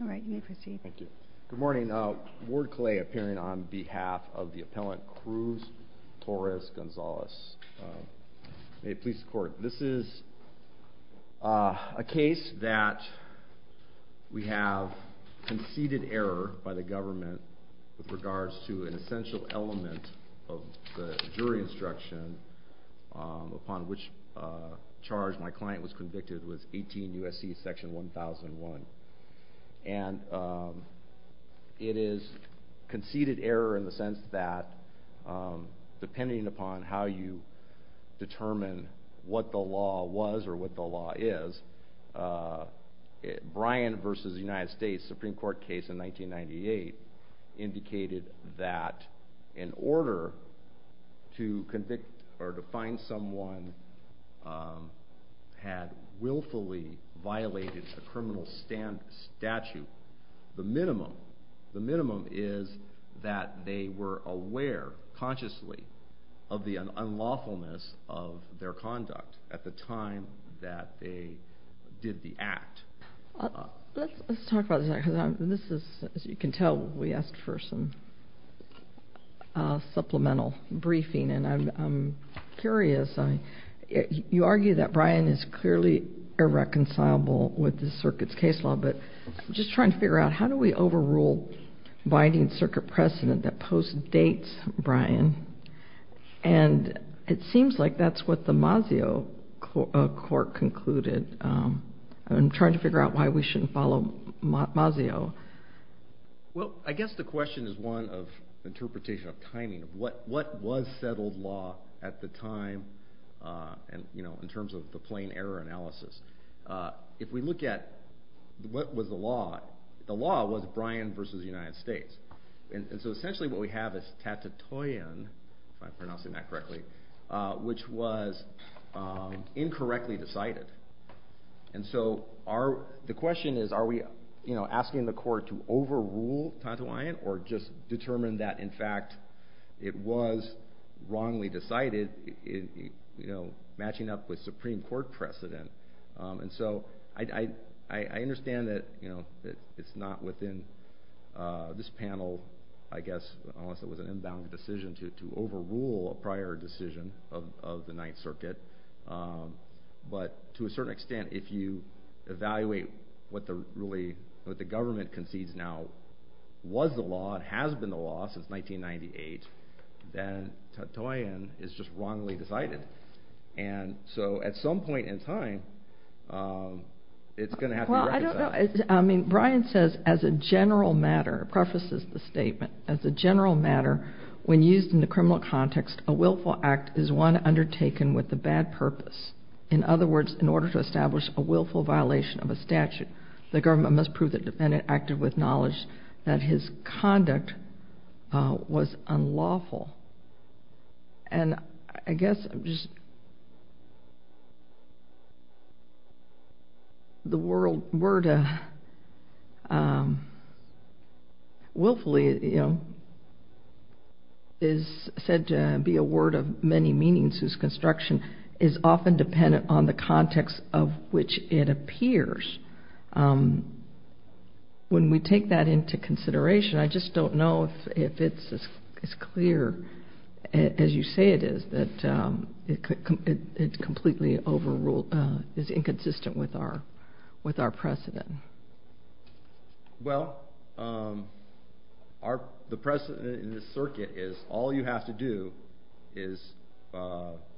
All right, you may proceed. Thank you. Good morning. Ward Clay appearing on behalf of the appellant Cruz Torres-Gonzalez. May it please the court. This is a case that we have conceded error by the government with regards to an essential element of the jury instruction upon which charge my client was convicted was 18 U.S.C. section 1001. And it is conceded error in the sense that depending upon how you determine what the law was or what the law is, Bryan v. United States Supreme Court case in 1998 indicated that in order to convict or to someone had willfully violated a criminal statute, the minimum is that they were aware consciously of the unlawfulness of their conduct at the time that they did the act. Let's talk about this, because this is, as you can tell, we asked for some supplemental briefing. And I'm curious, you argue that Bryan is clearly irreconcilable with the circuit's case law, but I'm just trying to figure out how do we overrule binding circuit precedent that postdates Bryan? And it seems like that's what the Mazio court concluded. I'm trying to figure out why we shouldn't follow Mazio. Well, I guess the question is one of interpretation of what was settled law at the time in terms of the plain error analysis. If we look at what was the law, the law was Bryan v. United States. And so essentially what we have is Tatatoyan, if I'm pronouncing that correctly, which was incorrectly decided. And so the question is, are we asking the court to overrule Tatatoyan or just determine that in fact it was wrongly decided matching up with Supreme Court precedent? And so I understand that it's not within this panel, I guess, unless it was an inbound decision to overrule a prior decision of the Ninth Circuit. But to a certain extent, if you evaluate what the government concedes now was the law and has been the law since 1998, then Tatatoyan is just wrongly decided. And so at some point in time, it's going to have to be reconciled. Well, I don't know. I mean, Bryan says as a general matter, prefaces the statement, as a general matter, when used in criminal context, a willful act is one undertaken with a bad purpose. In other words, in order to establish a willful violation of a statute, the government must prove the defendant acted with said to be a word of many meanings whose construction is often dependent on the context of which it appears. When we take that into consideration, I just don't know if it's as clear as you say it is that it's completely overruled, is inconsistent with our precedent. Well, the precedent in this circuit is all you have to do is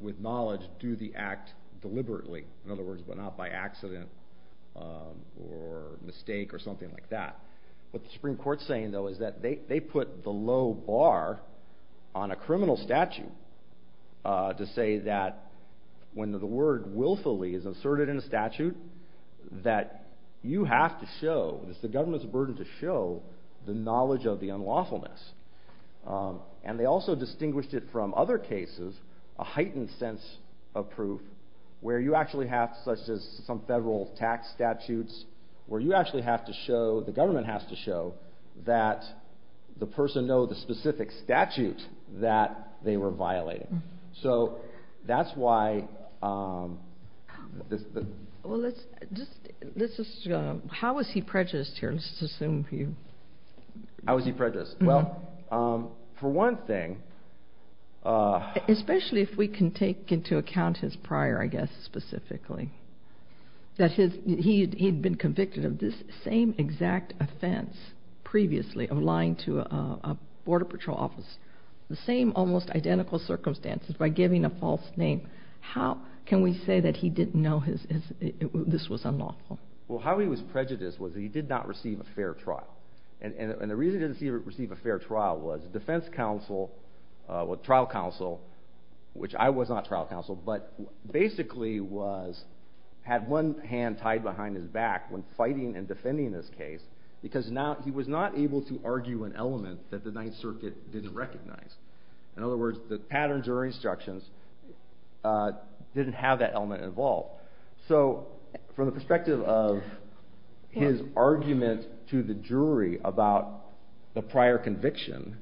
with knowledge, do the act deliberately. In other words, but not by accident or mistake or something like that. What the Supreme Court's saying, though, is that they put the low bar on a criminal statute to say that when the word willfully is asserted in a statute, that you have to show, it's the government's burden to show, the knowledge of the unlawfulness. And they also distinguished it from other cases, a heightened sense of proof, where you actually have such as some federal tax statutes, where you actually have to show, the government has to show, that the person know the specific statute that they were violating. So that's why... Well, let's just... How was he prejudiced here? Let's assume he... How was he prejudiced? Well, for one thing... Especially if we can take into account his prior, I guess, specifically. That he'd been convicted of this same exact offense previously of lying to a Border Patrol office, the same almost identical circumstances, by giving a false name. How can we say that he didn't know this was unlawful? Well, how he was prejudiced was he did not receive a fair trial. And the reason he didn't receive a fair trial was defense counsel, trial counsel, which I was not trial counsel, but basically had one hand tied behind his back when fighting and defending this case, because now he was not able to argue an element that the Ninth Circuit didn't recognize. In other words, the patterns or instructions didn't have that element involved. So from the perspective of his argument to the jury about the prior conviction...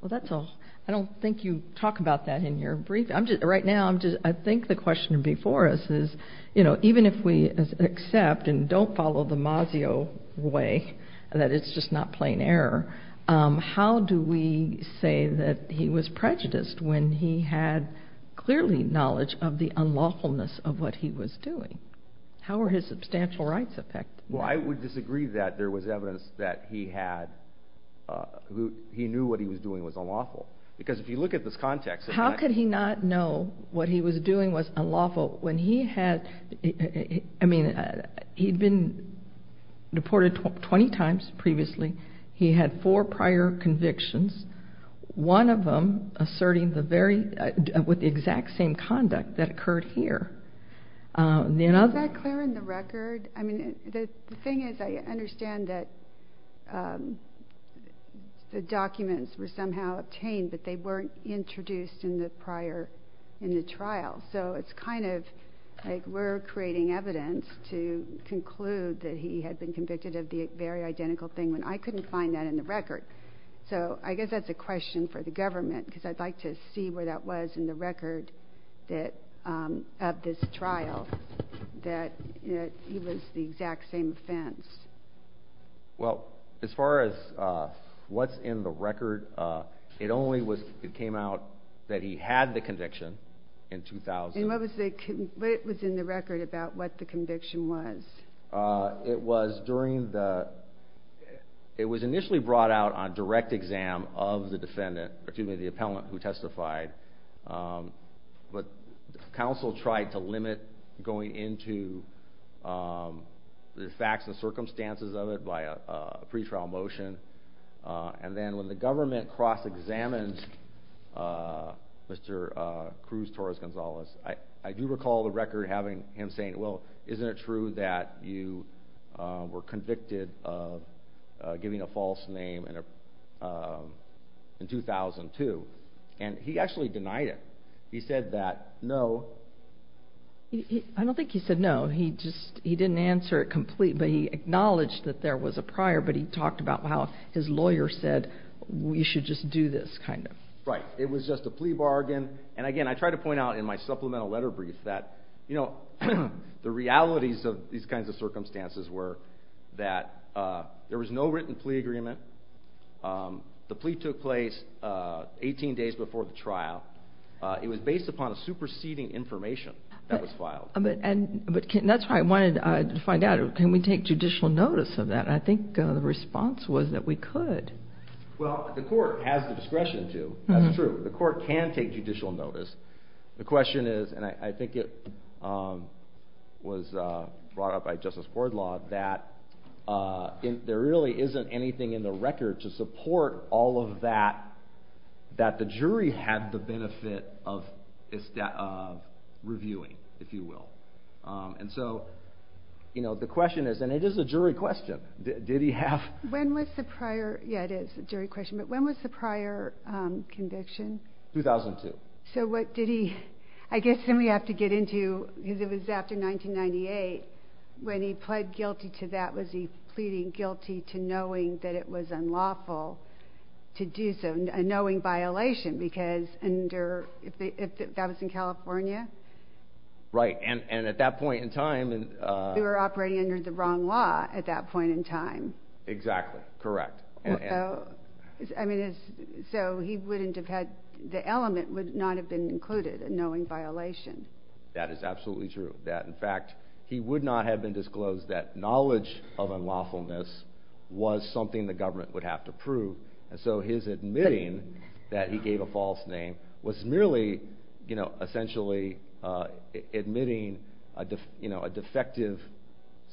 Well, that's all. I don't think you talk about that in your brief. Right now, I'm just... I think the question before us is, even if we accept and don't follow the say that he was prejudiced when he had clearly knowledge of the unlawfulness of what he was doing, how are his substantial rights affected? Well, I would disagree that there was evidence that he knew what he was doing was unlawful. Because if you look at this context... How could he not know what he was doing was unlawful when he had... I mean, he'd been convicted of four prior convictions, one of them asserting the very... With the exact same conduct that occurred here. Is that clear in the record? I mean, the thing is, I understand that the documents were somehow obtained, but they weren't introduced in the prior... In the trial. So it's kind of like we're creating evidence to conclude that he had been convicted of the very identical thing when I couldn't find that in the record. So I guess that's a question for the government, because I'd like to see where that was in the record of this trial, that he was the exact same offense. Well, as far as what's in the record, it only was... It came out that he had the conviction in 2000. And what was the... What was in the record about what the conviction was? It was during the... It was initially brought out on direct exam of the defendant, excuse me, the appellant who testified. But counsel tried to limit going into the facts and circumstances of it by a pretrial motion. And then when the government cross-examined Mr. Cruz Torres-Gonzalez, I do recall the record having him saying, well, isn't it true that you were convicted of giving a false name in 2002? And he actually denied it. He said that, no. I don't think he said no. He just... He didn't answer it completely, but he acknowledged that there was a prior, but he talked about how his lawyer said, we should just do this, kind of. Right. It was just a plea bargain. And again, I try to point out in my supplemental letter brief that the realities of these kinds of circumstances were that there was no written plea agreement. The plea took place 18 days before the trial. It was based upon a superseding information that was filed. But that's why I wanted to find out, can we take judicial notice of that? And I think the response was that we could. Well, the court has the discretion to. That's true. The court can take judicial notice. The question is, and I think it was brought up by Justice Boardlaw, that there really isn't anything in the record to support all of that, that the jury had the benefit of reviewing, if you will. And so the question is, and it is a jury question, did he have... When was the prior... Yeah, it is a jury question, but when was the prior conviction? 2002. So what did he... I guess then we have to get into, because it was after 1998, when he pled guilty to that, was he pleading guilty to knowing that it was unlawful to do so, a knowing violation, because under... If that was in California? Right. And at that point in time... We were operating under the wrong law at that point in time. Exactly. Correct. So he wouldn't have had... The element would not have been included, a knowing violation. That is absolutely true. That, in fact, he would not have been disclosed that knowledge of unlawfulness was something the government would have to prove. And so his admitting that he gave a false name was merely essentially admitting a defective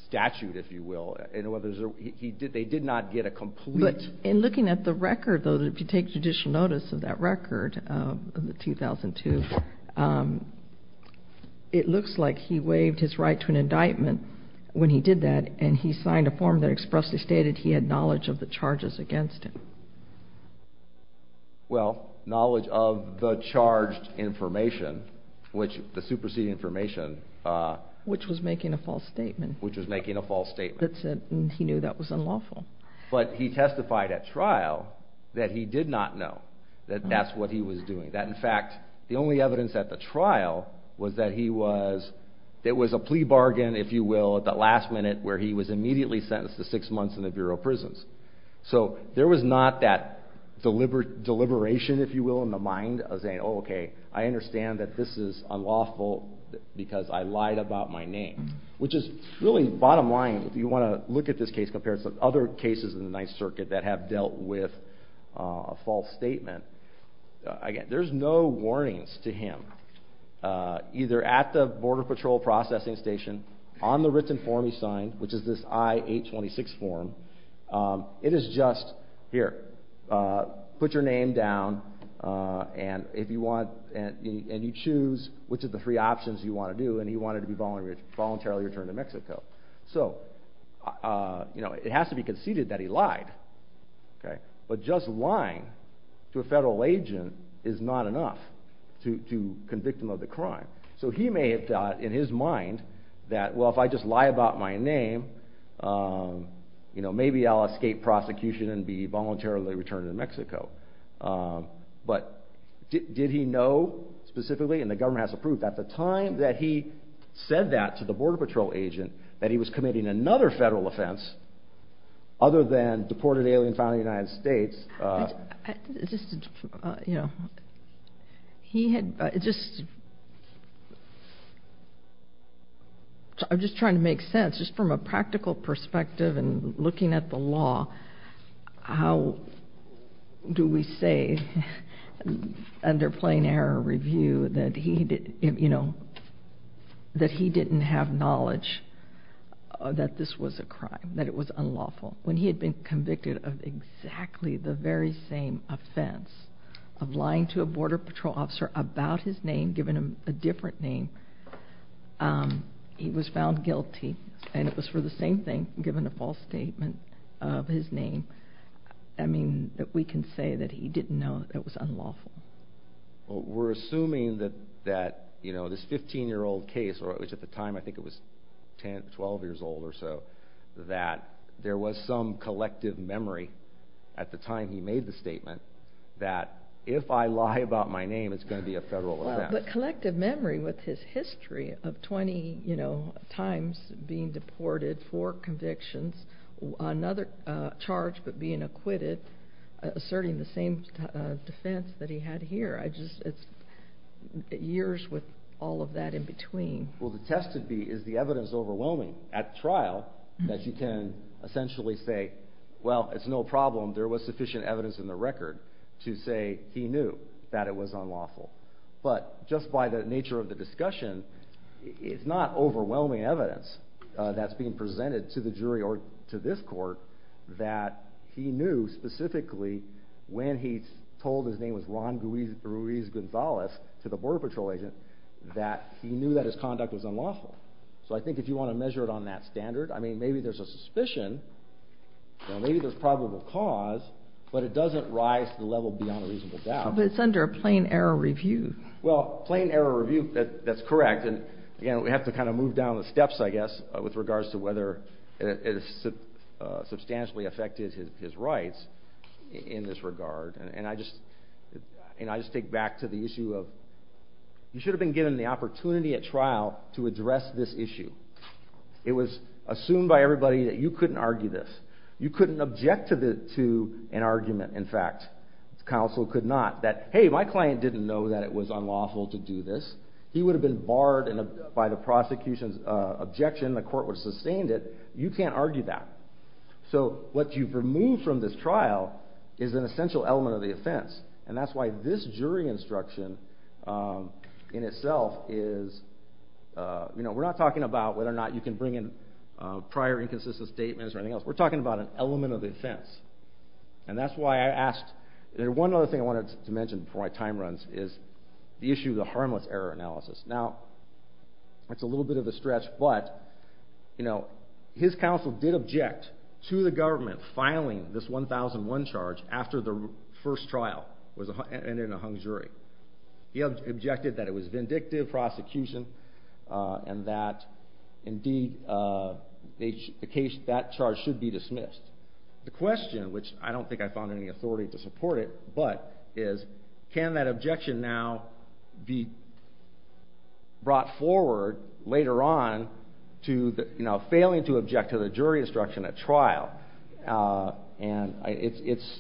statute, if you will. They did not get a complete... But in looking at the record, though, that if you take judicial notice of that record of the 2002, it looks like he waived his right to an indictment when he did that, and he signed a form that expressly stated he had knowledge of the charges against him. Well, knowledge of the charged information, which the superseding information... Which was making a false statement. Which was making a false statement. That's it. And he knew that was unlawful. But he testified at trial that he did not know that that's what he was doing. That, in fact, the only evidence at the trial was that he was... There was a plea bargain, if you will, at the last minute where he was immediately sentenced to six months in the Bureau of Prisons. So there was not that deliberation, if you will, in the mind of saying, oh, okay, I understand that this is unlawful because I lied about my name. Which is really bottom line, if you want to look at this case compared to some other cases in the Ninth Circuit that have dealt with a false statement. Again, there's no warnings to him, either at the Border Patrol Processing Station, on the written form he signed, which is this I-826 form. It is just, here, put your name down and if you want... And you choose which of the three options you want to do. And he wanted to be voluntarily returned to Mexico. So, you know, it has to be conceded that he lied, okay? But just lying to a federal agent is not enough to convict him of the crime. So he may have thought in his mind that, well, if I just lie about my name, you know, maybe I'll escape prosecution and be voluntarily returned to Mexico. But did he know specifically, and the government has to prove, at the time that he said that to the Border Patrol agent, that he was committing another federal offense other than deported alien found in the United States? I'm just trying to make sense, just from a practical perspective and looking at the law, how do we say, under plain error review, that he, you know, that he didn't have knowledge that this was a crime, that it was unlawful. When he had been convicted of exactly the very same offense of lying to a Border Patrol officer about his name, given him a different name, he was found guilty. And it was for the same thing, given a false statement of his name. I mean, we can say that he didn't know it was unlawful. Well, we're assuming that, you know, this 15-year-old case, which at the time I think it was 10, 12 years old or so, that there was some collective memory at the time he made the statement that if I lie about my name, it's going to be a federal offense. But collective memory with his history of 20, you know, times being deported, four convictions, another charge but being acquitted, asserting the same defense that he had here. I just, it's years with all of that in between. Well, the test would be, is the evidence overwhelming at trial that you can essentially say, well, it's no problem, there was sufficient evidence in the record to say he knew that it was unlawful. But just by the nature of the discussion, it's not overwhelming evidence that's being presented to the jury or to this court that he knew specifically when he told his name was Ron Ruiz Gonzalez to the Border Patrol agent that he knew that his conduct was unlawful. So I think if you want to measure it that standard, I mean, maybe there's a suspicion, maybe there's probable cause, but it doesn't rise to the level beyond a reasonable doubt. But it's under a plain error review. Well, plain error review, that's correct. And again, we have to kind of move down the steps, I guess, with regards to whether it substantially affected his rights in this regard. And I just take back to the issue of you should have been given the opportunity at trial to address this issue. It was assumed by everybody that you couldn't argue this. You couldn't object to an argument, in fact. The counsel could not. That, hey, my client didn't know that it was unlawful to do this. He would have been barred by the prosecution's objection, the court would have sustained it. You can't argue that. So what you've removed from this trial is an essential element of the offense. And that's why this jury instruction in itself is, you know, we're not talking about whether or not you can bring in prior inconsistent statements or anything else. We're talking about an element of the offense. And that's why I asked, one other thing I wanted to mention before my time runs is the issue of the harmless error analysis. Now, it's a little bit of a stretch, but, you know, his counsel did object to the government filing this 1001 charge after the first trial and in a hung jury. He objected that it was vindictive prosecution and that, indeed, that charge should be dismissed. The question, which I don't think I found any authority to support it, but, is can that jury instruction at trial? And it's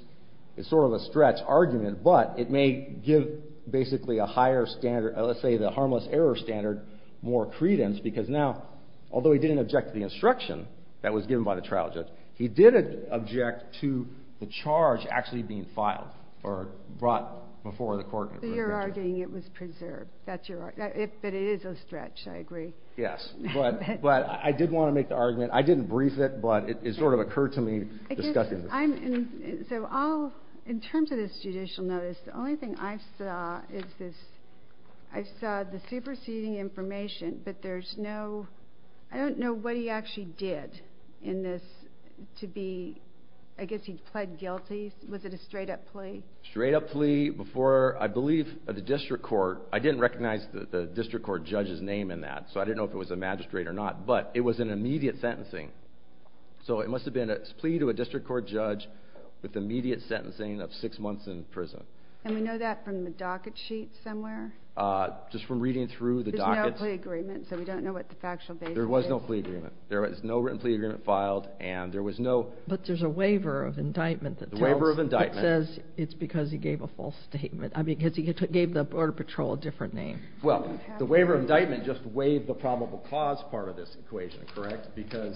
sort of a stretch argument, but it may give basically a higher standard, let's say the harmless error standard, more credence because now, although he didn't object to the instruction that was given by the trial judge, he did object to the charge actually being filed or brought before the court. You're arguing it was preserved. That's your argument. But it is a stretch, I agree. Yes, but I did want to make the argument. I didn't brief it, but it sort of occurred to me. In terms of this judicial notice, the only thing I saw is this, I saw the superseding information, but there's no, I don't know what he actually did in this to be, I guess he pled guilty. Was it a straight up plea? Straight up plea before, I believe, the district court. I didn't recognize the district court judge's name in that, so I didn't know if it was a magistrate or not, but it was an immediate sentencing. So it must have been a plea to a district court judge with immediate sentencing of six months in prison. And we know that from the docket sheet somewhere? Just from reading through the dockets. There's no plea agreement, so we don't know what the factual basis is. There was no plea agreement. There was no written plea agreement filed, and there was no- But there's a waiver of indictment that tells- Waiver of indictment. That says it's because he gave a false statement. I mean, because he gave the border patrol a different name. Well, the waiver of indictment just waived the probable cause part of this equation, correct? Because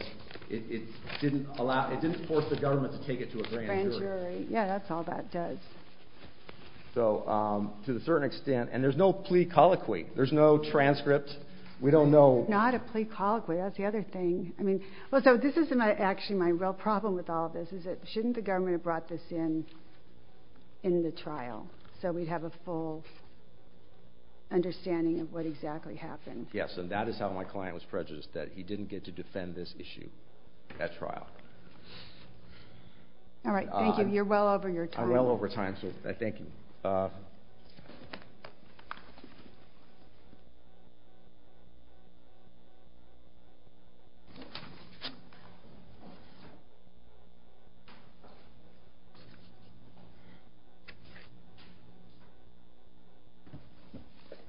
it didn't allow, it didn't force the government to take it to a grand jury. Grand jury. Yeah, that's all that does. So, to a certain extent, and there's no plea colloquy. There's no transcript. We don't know- Not a plea colloquy. That's the other thing. I mean, well, so this isn't actually my real problem with all of this, is that shouldn't the government have brought this in in the trial, so we'd have a full understanding of what exactly happened? Yes, and that is how my client was prejudiced, that he didn't get to defend this issue at trial. All right, thank you. You're well over your time. I'm well over time, so I thank you.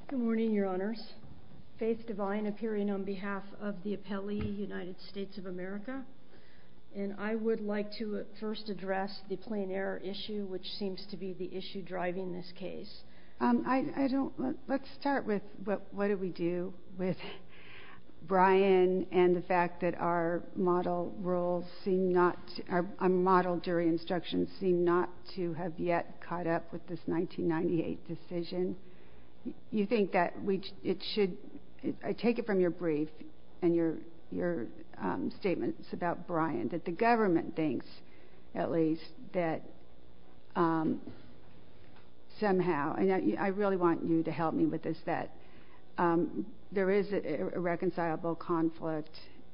Good morning, Your Honors. Faith Devine, appearing on behalf of the appellee, United States of America, and I would like to first address the plain error issue, which seems to be the issue driving this case. I don't, let's start with what do we do with Brian and the fact that our model roles seem not, our model jury instructions seem not to have yet caught up with this 1998 decision. You think that it should, I take it from your brief and your statements about Brian, that the government thinks at least that somehow, and I really want you to help me with this, that there is a reconcilable conflict,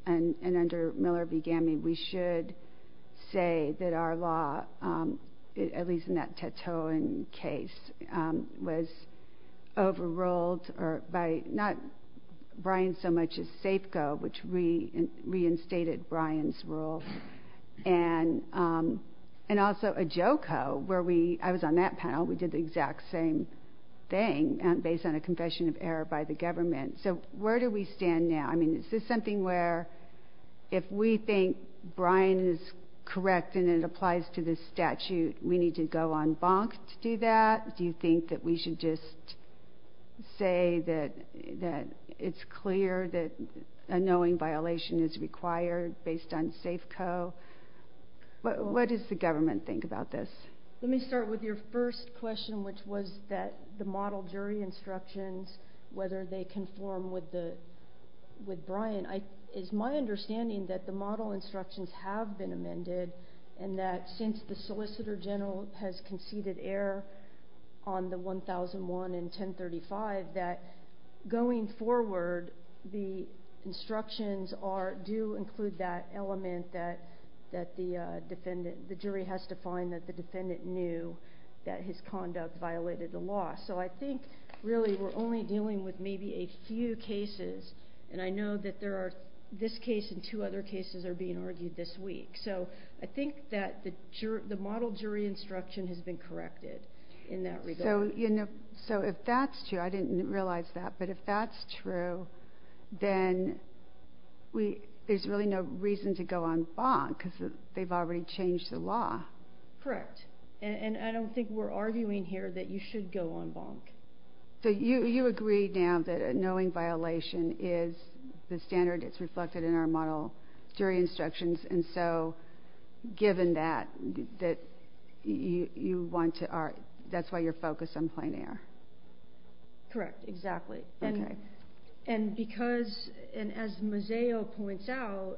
and under Miller v. Gammie, we should say that our law, at least in that Tetoan case, was overruled by not Brian so much as SAFCO, which reinstated Brian's role, and also AJOCO, where we, I was on that panel, we did the exact same thing based on a government. So where do we stand now? I mean, is this something where, if we think Brian is correct and it applies to this statute, we need to go on bonk to do that? Do you think that we should just say that it's clear that a knowing violation is required based on SAFCO? What does the government think about this? Let me start with your first question, which was that the model jury instructions, whether they conform with Brian, it's my understanding that the model instructions have been amended, and that since the Solicitor General has conceded error on the 1001 and 1035, that going forward, the instructions do include that element that the jury has to find that the with maybe a few cases, and I know that there are this case and two other cases are being argued this week. So I think that the model jury instruction has been corrected in that regard. So, you know, so if that's true, I didn't realize that, but if that's true, then there's really no reason to go on bonk because they've already changed the law. Correct. And I don't think we're arguing here that you should go on bonk. So you agree now that a knowing violation is the standard that's reflected in our model jury instructions, and so given that, that you want to, that's why you're focused on plain error? Correct. Exactly. And because, and as Moseo points out,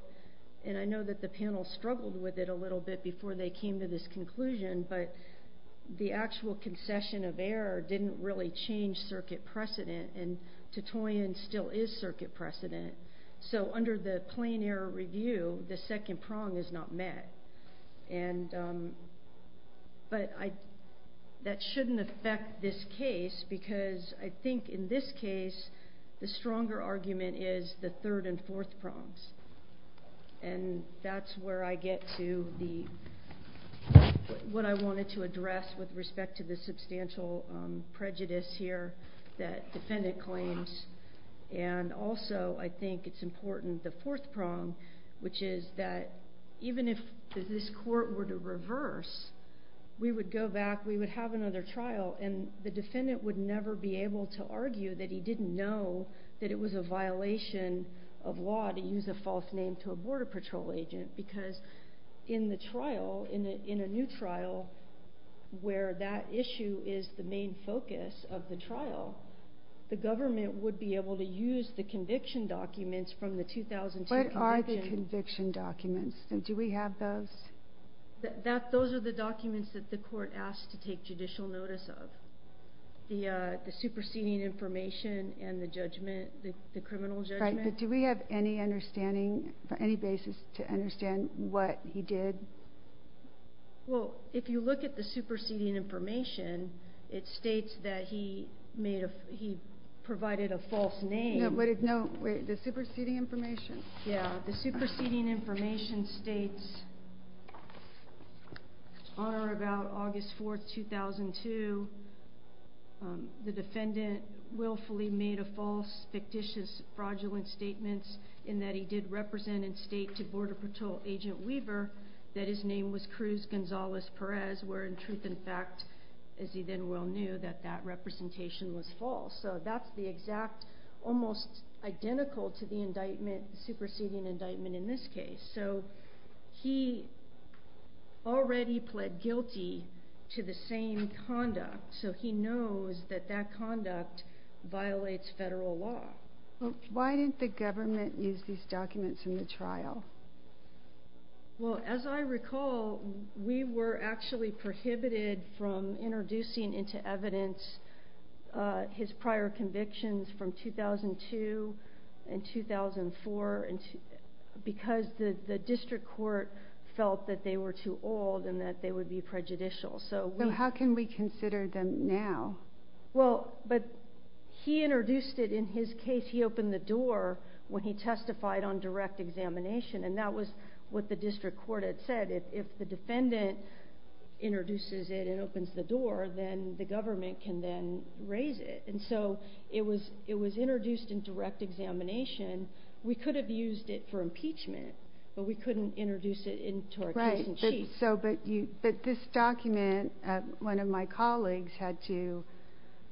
and I know that the panel struggled with it a little bit before they came to this conclusion, but the actual concession of error didn't really change circuit precedent and Titoian still is circuit precedent. So under the plain error review, the second prong is not met. And, but I, that shouldn't affect this case because I think in this case, the stronger argument is the third and fourth prongs. And that's where I get to the, what I wanted to address with respect to the substantial prejudice here that defendant claims. And also I think it's important, the fourth prong, which is that even if this court were to reverse, we would go back, we would have another trial, and the defendant would never be able to argue that he didn't know that it was a violation of law to use a false name to a border patrol agent, because in the trial, in a new trial where that issue is the main focus of the trial, the government would be able to use the conviction documents from the 2002 conviction. What are the conviction documents? Do we have those? That, those are the documents that the court asked to take judicial notice of. The, the superseding information and the judgment, the criminal judgment. Right. But do we have any look at the superseding information? It states that he made a, he provided a false name. No, but if no, wait, the superseding information. Yeah. The superseding information states on or about August 4th, 2002, the defendant willfully made a false fictitious fraudulent statements in that he did represent and state to border patrol agent Weaver that his name was Cruz Gonzalez Perez, where in truth and fact, as he then well knew that that representation was false. So that's the exact, almost identical to the indictment, superseding indictment in this case. So he already pled guilty to the same conduct. So he knows that that conduct violates federal law. Why didn't the government use these documents in the trial? Well, as I recall, we were actually prohibited from introducing into evidence, his prior convictions from 2002 and 2004, and because the district court felt that they were too old and that they would be prejudicial. So how can we consider them now? Well, but he introduced it in his case. He opened the door when he testified on direct examination, and that was what the district court had said. If the defendant introduces it and opens the door, then the government can then raise it. And so it was, it was introduced in direct examination. We could have used it for impeachment, but we couldn't introduce it into our case in chief. So, but you, but this document, one of my colleagues had to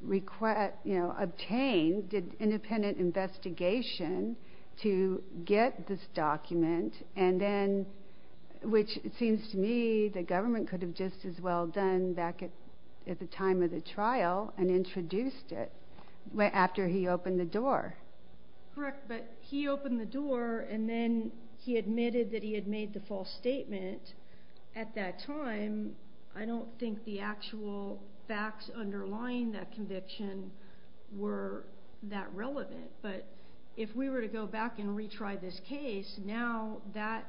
request, you know, obtain, did independent investigation to get this document. And then, which it seems to me, the government could have just as well done back at the time of the trial and introduced it after he opened the door. Correct. But he opened the door and then he admitted that he had made the false statement. At that time, I don't think the actual facts underlying that conviction were that relevant, but if we were to go back and retry this case, now that,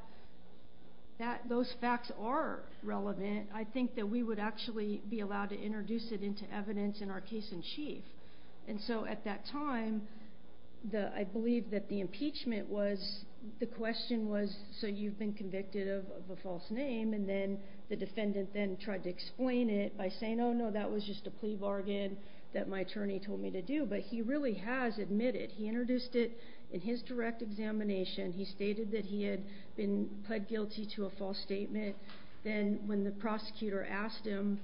that those facts are relevant, I think that we would actually be allowed to introduce it into evidence in our case in chief. And so at that time, the, I believe that the impeachment was, the question was, so you've been convicted of a false name. And then the defendant then tried to explain it by saying, oh no, that was just a plea bargain that my attorney told me to do. But he really has admitted, he introduced it in his direct examination. He stated that he had been pled guilty to a false statement. Then when the prosecutor asked him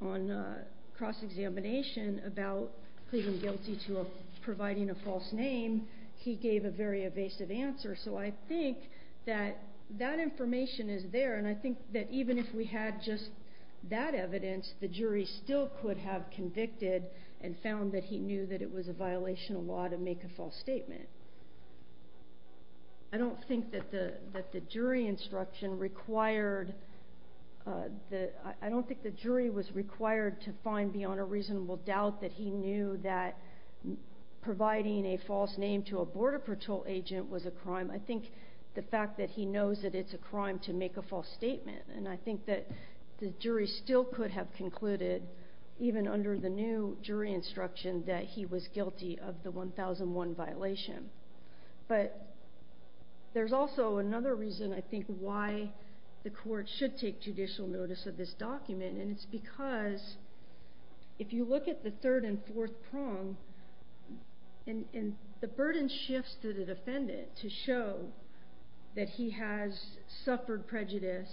on a cross-examination about pleading guilty to a, providing a false name, he gave a very evasive answer. So I think that that information is there. And I think that even if we had just that evidence, the jury still could have convicted and found that he knew that it was a violation of law to make a false statement. I don't think that the, that the jury instruction required the, I don't think the jury was required to find beyond a reasonable doubt that he knew that providing a false name to a Border Patrol agent was a crime. I think the fact that he knows that it's a crime to make a false statement, and I think that the jury still could have concluded even under the new jury instruction that he was guilty of the 1001 violation. But there's also another reason I think why the court should take judicial notice of this document. And it's because if you look at the third and fourth prong, and the burden shifts to the defendant to show that he has suffered prejudice.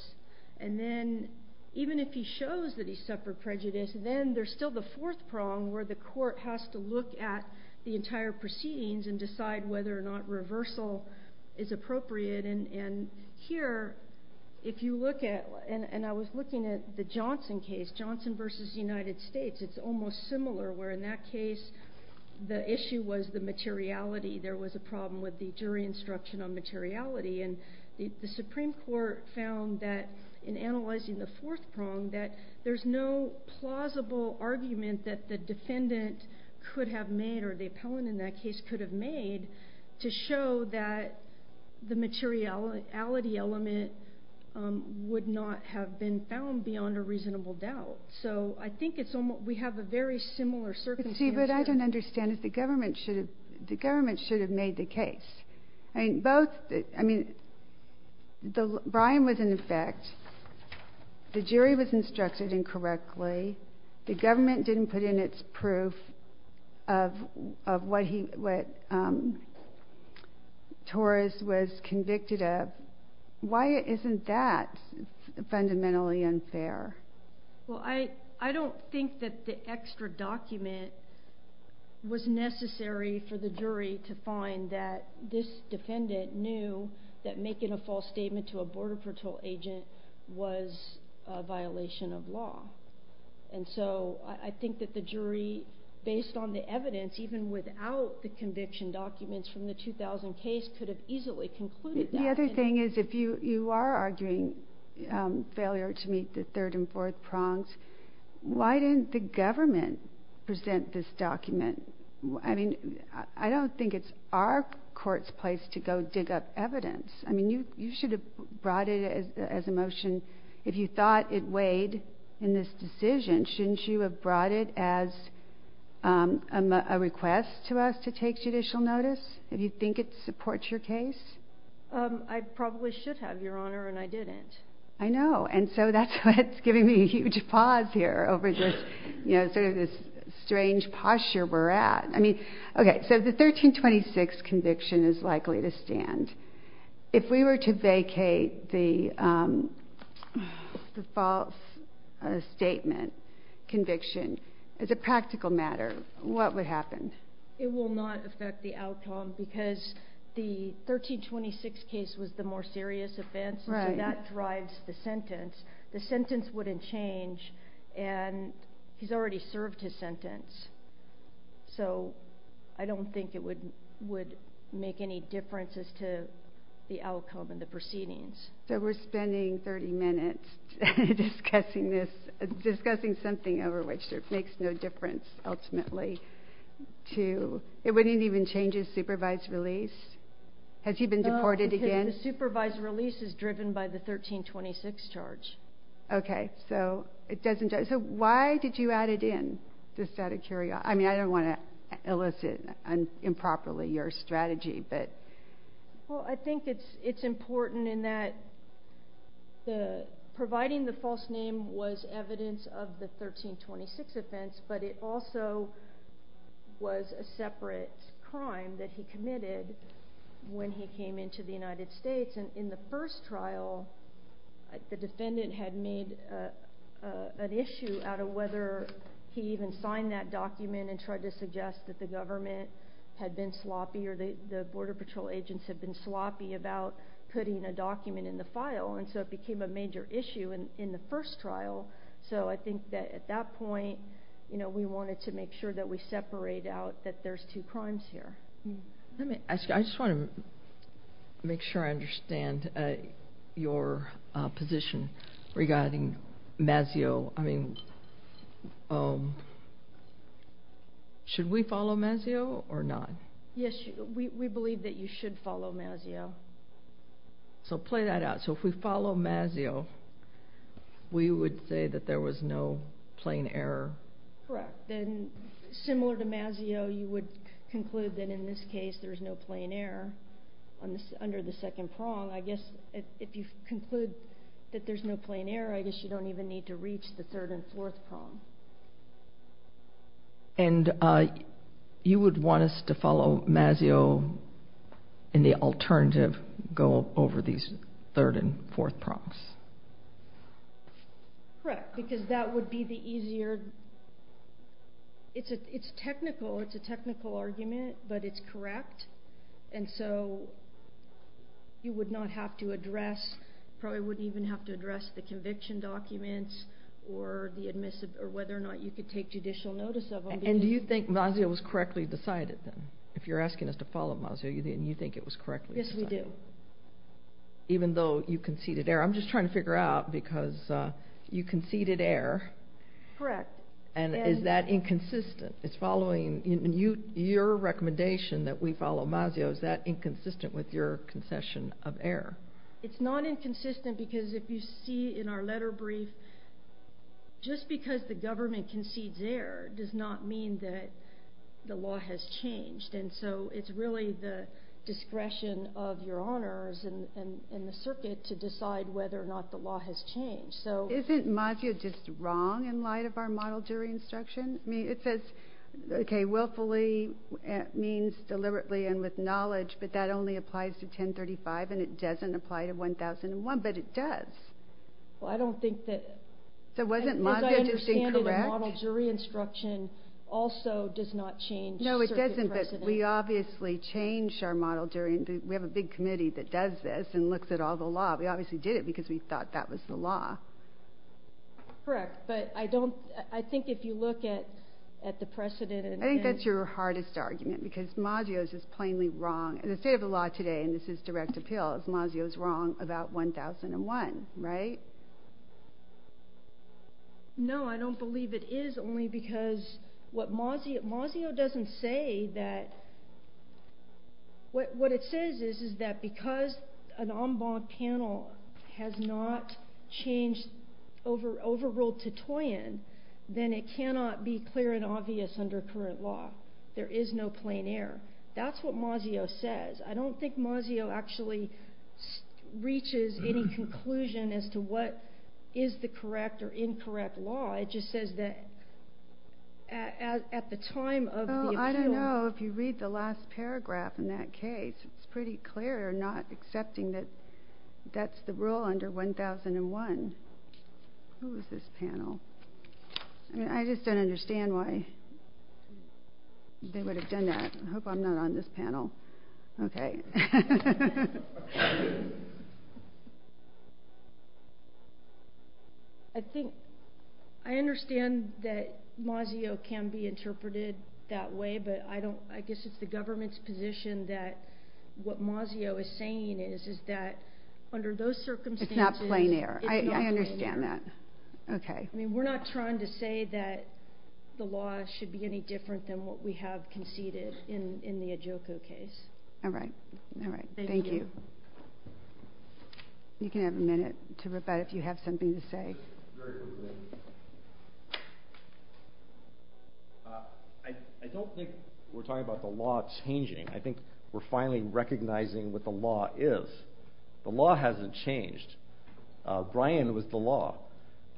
And then even if he shows that he suffered prejudice, then there's still the fourth prong where the court has to look at the entire proceedings and decide whether or not reversal is appropriate. And here, if you look at, and I was looking at the Johnson case, Johnson versus United States. It's almost similar where in that case, the issue was the materiality. There was a problem with the jury instruction on materiality. And the Supreme Court found that in analyzing the fourth prong, that there's no plausible argument that the defendant could have made, or the appellant in that case could have made, to show that the materiality element would not have been found beyond a reasonable doubt. So I think it's almost, we have a very similar circumstance. But see, what I don't understand is the government should have made the case. I mean, both, I mean, Brian was in effect, the jury was instructed incorrectly. The government didn't put in its proof of what he, what Torres was convicted of. Why isn't that fundamentally unfair? Well, I don't think that the extra document was necessary for the jury to find that this defendant knew that making a false statement to a border patrol agent was a violation of law. And so I think that the jury, based on the evidence, even without the conviction documents from the 2000 case, could have easily concluded that. The other thing is, if you are arguing failure to meet the third and fourth prongs, why didn't the government present this document? I mean, I don't think it's our court's place to go dig up evidence. I mean, you should have brought it as a motion. If you thought it weighed in this decision, shouldn't you have brought it as a request to us to take judicial notice, if you think it supports your case? I probably should have, Your Honor, and I didn't. I know. And so that's what's giving me a huge pause here over this, you know, sort of this If we were to vacate the false statement conviction as a practical matter, what would happen? It will not affect the outcome, because the 1326 case was the more serious offense, so that drives the sentence. The sentence wouldn't change, and he's already served his sentence. So I don't think it would make any difference as to the outcome and the proceedings. So we're spending 30 minutes discussing this, discussing something over which it makes no difference ultimately. It wouldn't even change his supervised release? Has he been deported again? The supervised release is driven by the 1326 charge. Okay, so it doesn't. So why did you add it in, the stata curia? I mean, I don't want to elicit improperly your strategy, but... Well, I think it's important in that providing the false name was evidence of the 1326 offense, but it also was a separate crime that he committed when he came into the United States. And in the first trial, the defendant had made an issue out of whether he even signed that document and tried to suggest that the government had been sloppy or the Border Patrol agents had been sloppy about putting a document in the file, and so it became a major issue in the first trial. So I think that at that point, we wanted to make sure that we separate out that there's two crimes here. Let me ask you, I just want to make sure I understand your position regarding Mazzeo. I mean, should we follow Mazzeo or not? Yes, we believe that you should follow Mazzeo. So play that out. So if we follow Mazzeo, we would say that there was no plain error? Correct. Then, similar to Mazzeo, you would conclude that in this case, there's no plain error under the second prong. I guess if you conclude that there's no plain error, I guess you don't even need to reach the third and fourth prong. And you would want us to follow Mazzeo in the alternative, go over these third and fourth prongs. Correct, because that would be the easier, it's technical, it's a technical argument, but it's correct. And so you would not have to address, probably wouldn't even have to address the conviction documents or the admissive, or whether or not you could take judicial notice of them. And do you think Mazzeo was correctly decided then? If you're asking us to follow Mazzeo, I'm just trying to figure out, because you conceded error. Correct. And is that inconsistent? It's following, in your recommendation that we follow Mazzeo, is that inconsistent with your concession of error? It's not inconsistent, because if you see in our letter brief, just because the government concedes error does not mean that the law has changed. And so it's really the discretion of your honors and the circuit to decide whether or not the law has changed. So isn't Mazzeo just wrong in light of our model jury instruction? I mean, it says, okay, willfully means deliberately and with knowledge, but that only applies to 1035, and it doesn't apply to 1001, but it does. Well, I don't think that, as I understand it, model jury instruction also does not change. No, it doesn't, but we obviously change our model during, we have a big committee that does this and looks at all the law. We obviously did it because we thought that was the law. Correct, but I don't, I think if you look at the precedent. I think that's your hardest argument, because Mazzeo is just plainly wrong, in the state of the law today, and this is direct appeal, is Mazzeo's wrong about 1001, right? No, I don't believe it is, only because what Mazzeo, Mazzeo doesn't say that, what it says is, is that because an en banc panel has not changed over, overruled to Toyin, then it cannot be clear and obvious under current law. There is no plein air. That's what Mazzeo says. I don't think Mazzeo actually reaches any conclusion as to what is the correct or incorrect law. It just says that at the time of the appeal. Well, I don't know if you read the last paragraph in that case. It's pretty clear, not accepting that that's the rule under 1001. Who is this panel? I just don't understand why they would have done that. I hope I'm not on this panel. Okay. I think, I understand that Mazzeo can be interpreted that way, but I don't, I guess it's the government's position that what Mazzeo is saying is, is that under those circumstances. It's not plein air. I understand that. Okay. I mean, we're not trying to say that the law should be any different than what we have conceded in the Adjoko case. All right. All right. Thank you. You can have a minute to rebut if you have something to say. I don't think we're talking about the law changing. I think we're finally recognizing what the law is. The law hasn't changed. Bryan was the law.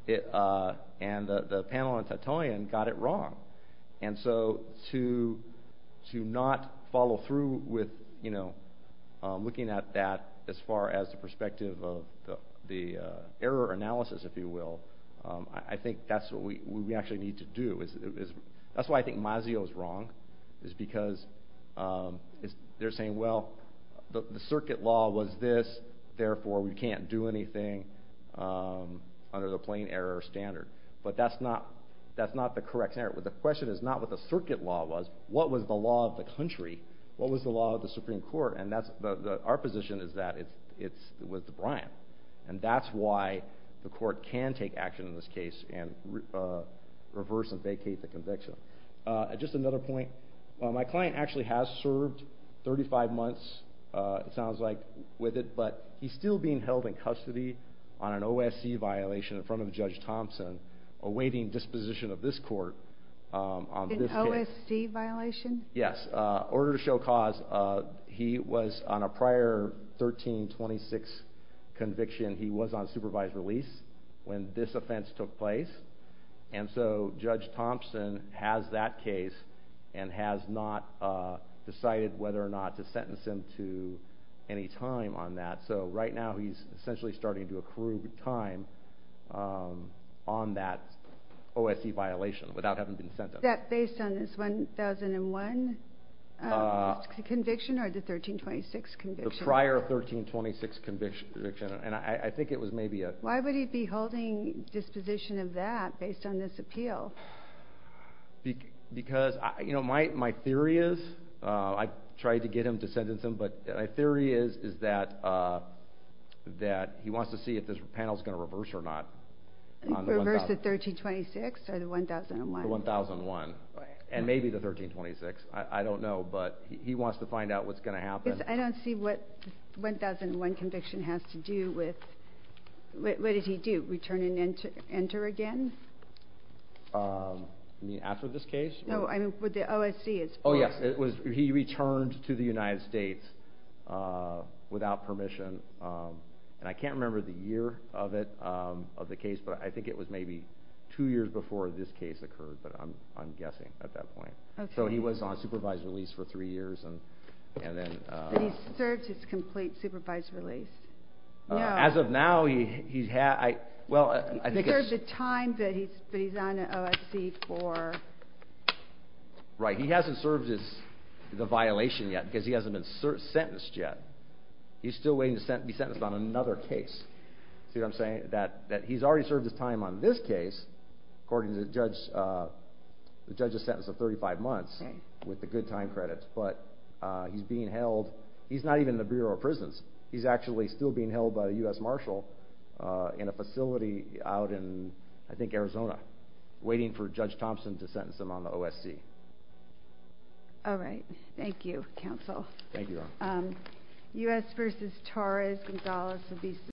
And the panel on Tatoyan got it wrong. And so, to not follow through with, you know, looking at that as far as the perspective of the error analysis, if you will, I think that's what we actually need to do. That's why I think Mazzeo is wrong, is because they're saying, well, the circuit law was this. Therefore, we can't do anything under the plein air standard. But that's not, that's not the correct error. But the question is not what the circuit law was. What was the law of the country? What was the law of the Supreme Court? And that's the, our position is that it's, it's with the Bryan. And that's why the court can take action in this case and reverse and vacate the conviction. Just another point. My client actually has served 35 months, it sounds like, with it, but he's still being held in custody on an OSC violation in front of Judge Thompson awaiting disposition of this court on this case. An OSC violation? Yes. Order to show cause. He was on a prior 1326 conviction. He was on supervised release when this offense took place. And so Judge Thompson has that case and has not decided whether or not to sentence him to any time on that. So right now he's essentially starting to accrue time on that OSC violation without having been sentenced. Is that based on this 1001 conviction or the 1326 conviction? The prior 1326 conviction. And I think it was maybe a 1001 conviction. Why would he be holding disposition of that based on this appeal? Because, you know, my theory is, I tried to get him to sentence him, but my theory is, is that that he wants to see if this panel is going to reverse or not. Reverse the 1326 or the 1001? The 1001. Right. And maybe the 1326. I don't know, but he wants to find out what's going to happen. I don't see what 1001 conviction has to do with, what did he do? Return and enter again? You mean after this case? No, I mean with the OSC. Oh yes, it was, he returned to the United States without permission. And I can't remember the year of it, of the case, but I think it was maybe two years before this case occurred, but I'm guessing at that point. So he was on supervised release for three years and, and then. But he's served his complete supervised release. As of now, he's had, well, I think it's. He's served the time, but he's on an OSC for. Right. He hasn't served the violation yet because he hasn't been sentenced yet. He's still waiting to be sentenced on another case. See what I'm saying? That he's already served his time on this case. According to the judge, the judge has sentenced him to 35 months with the good time credits, but he's being held. He's not even in the Bureau of Prisons. He's actually still being held by the U.S. Marshal in a facility out in, I think, Arizona, waiting for Judge Thompson to sentence him on the OSC. All right. Thank you, Counsel. Thank you. U.S. v. Torres-Gonzalez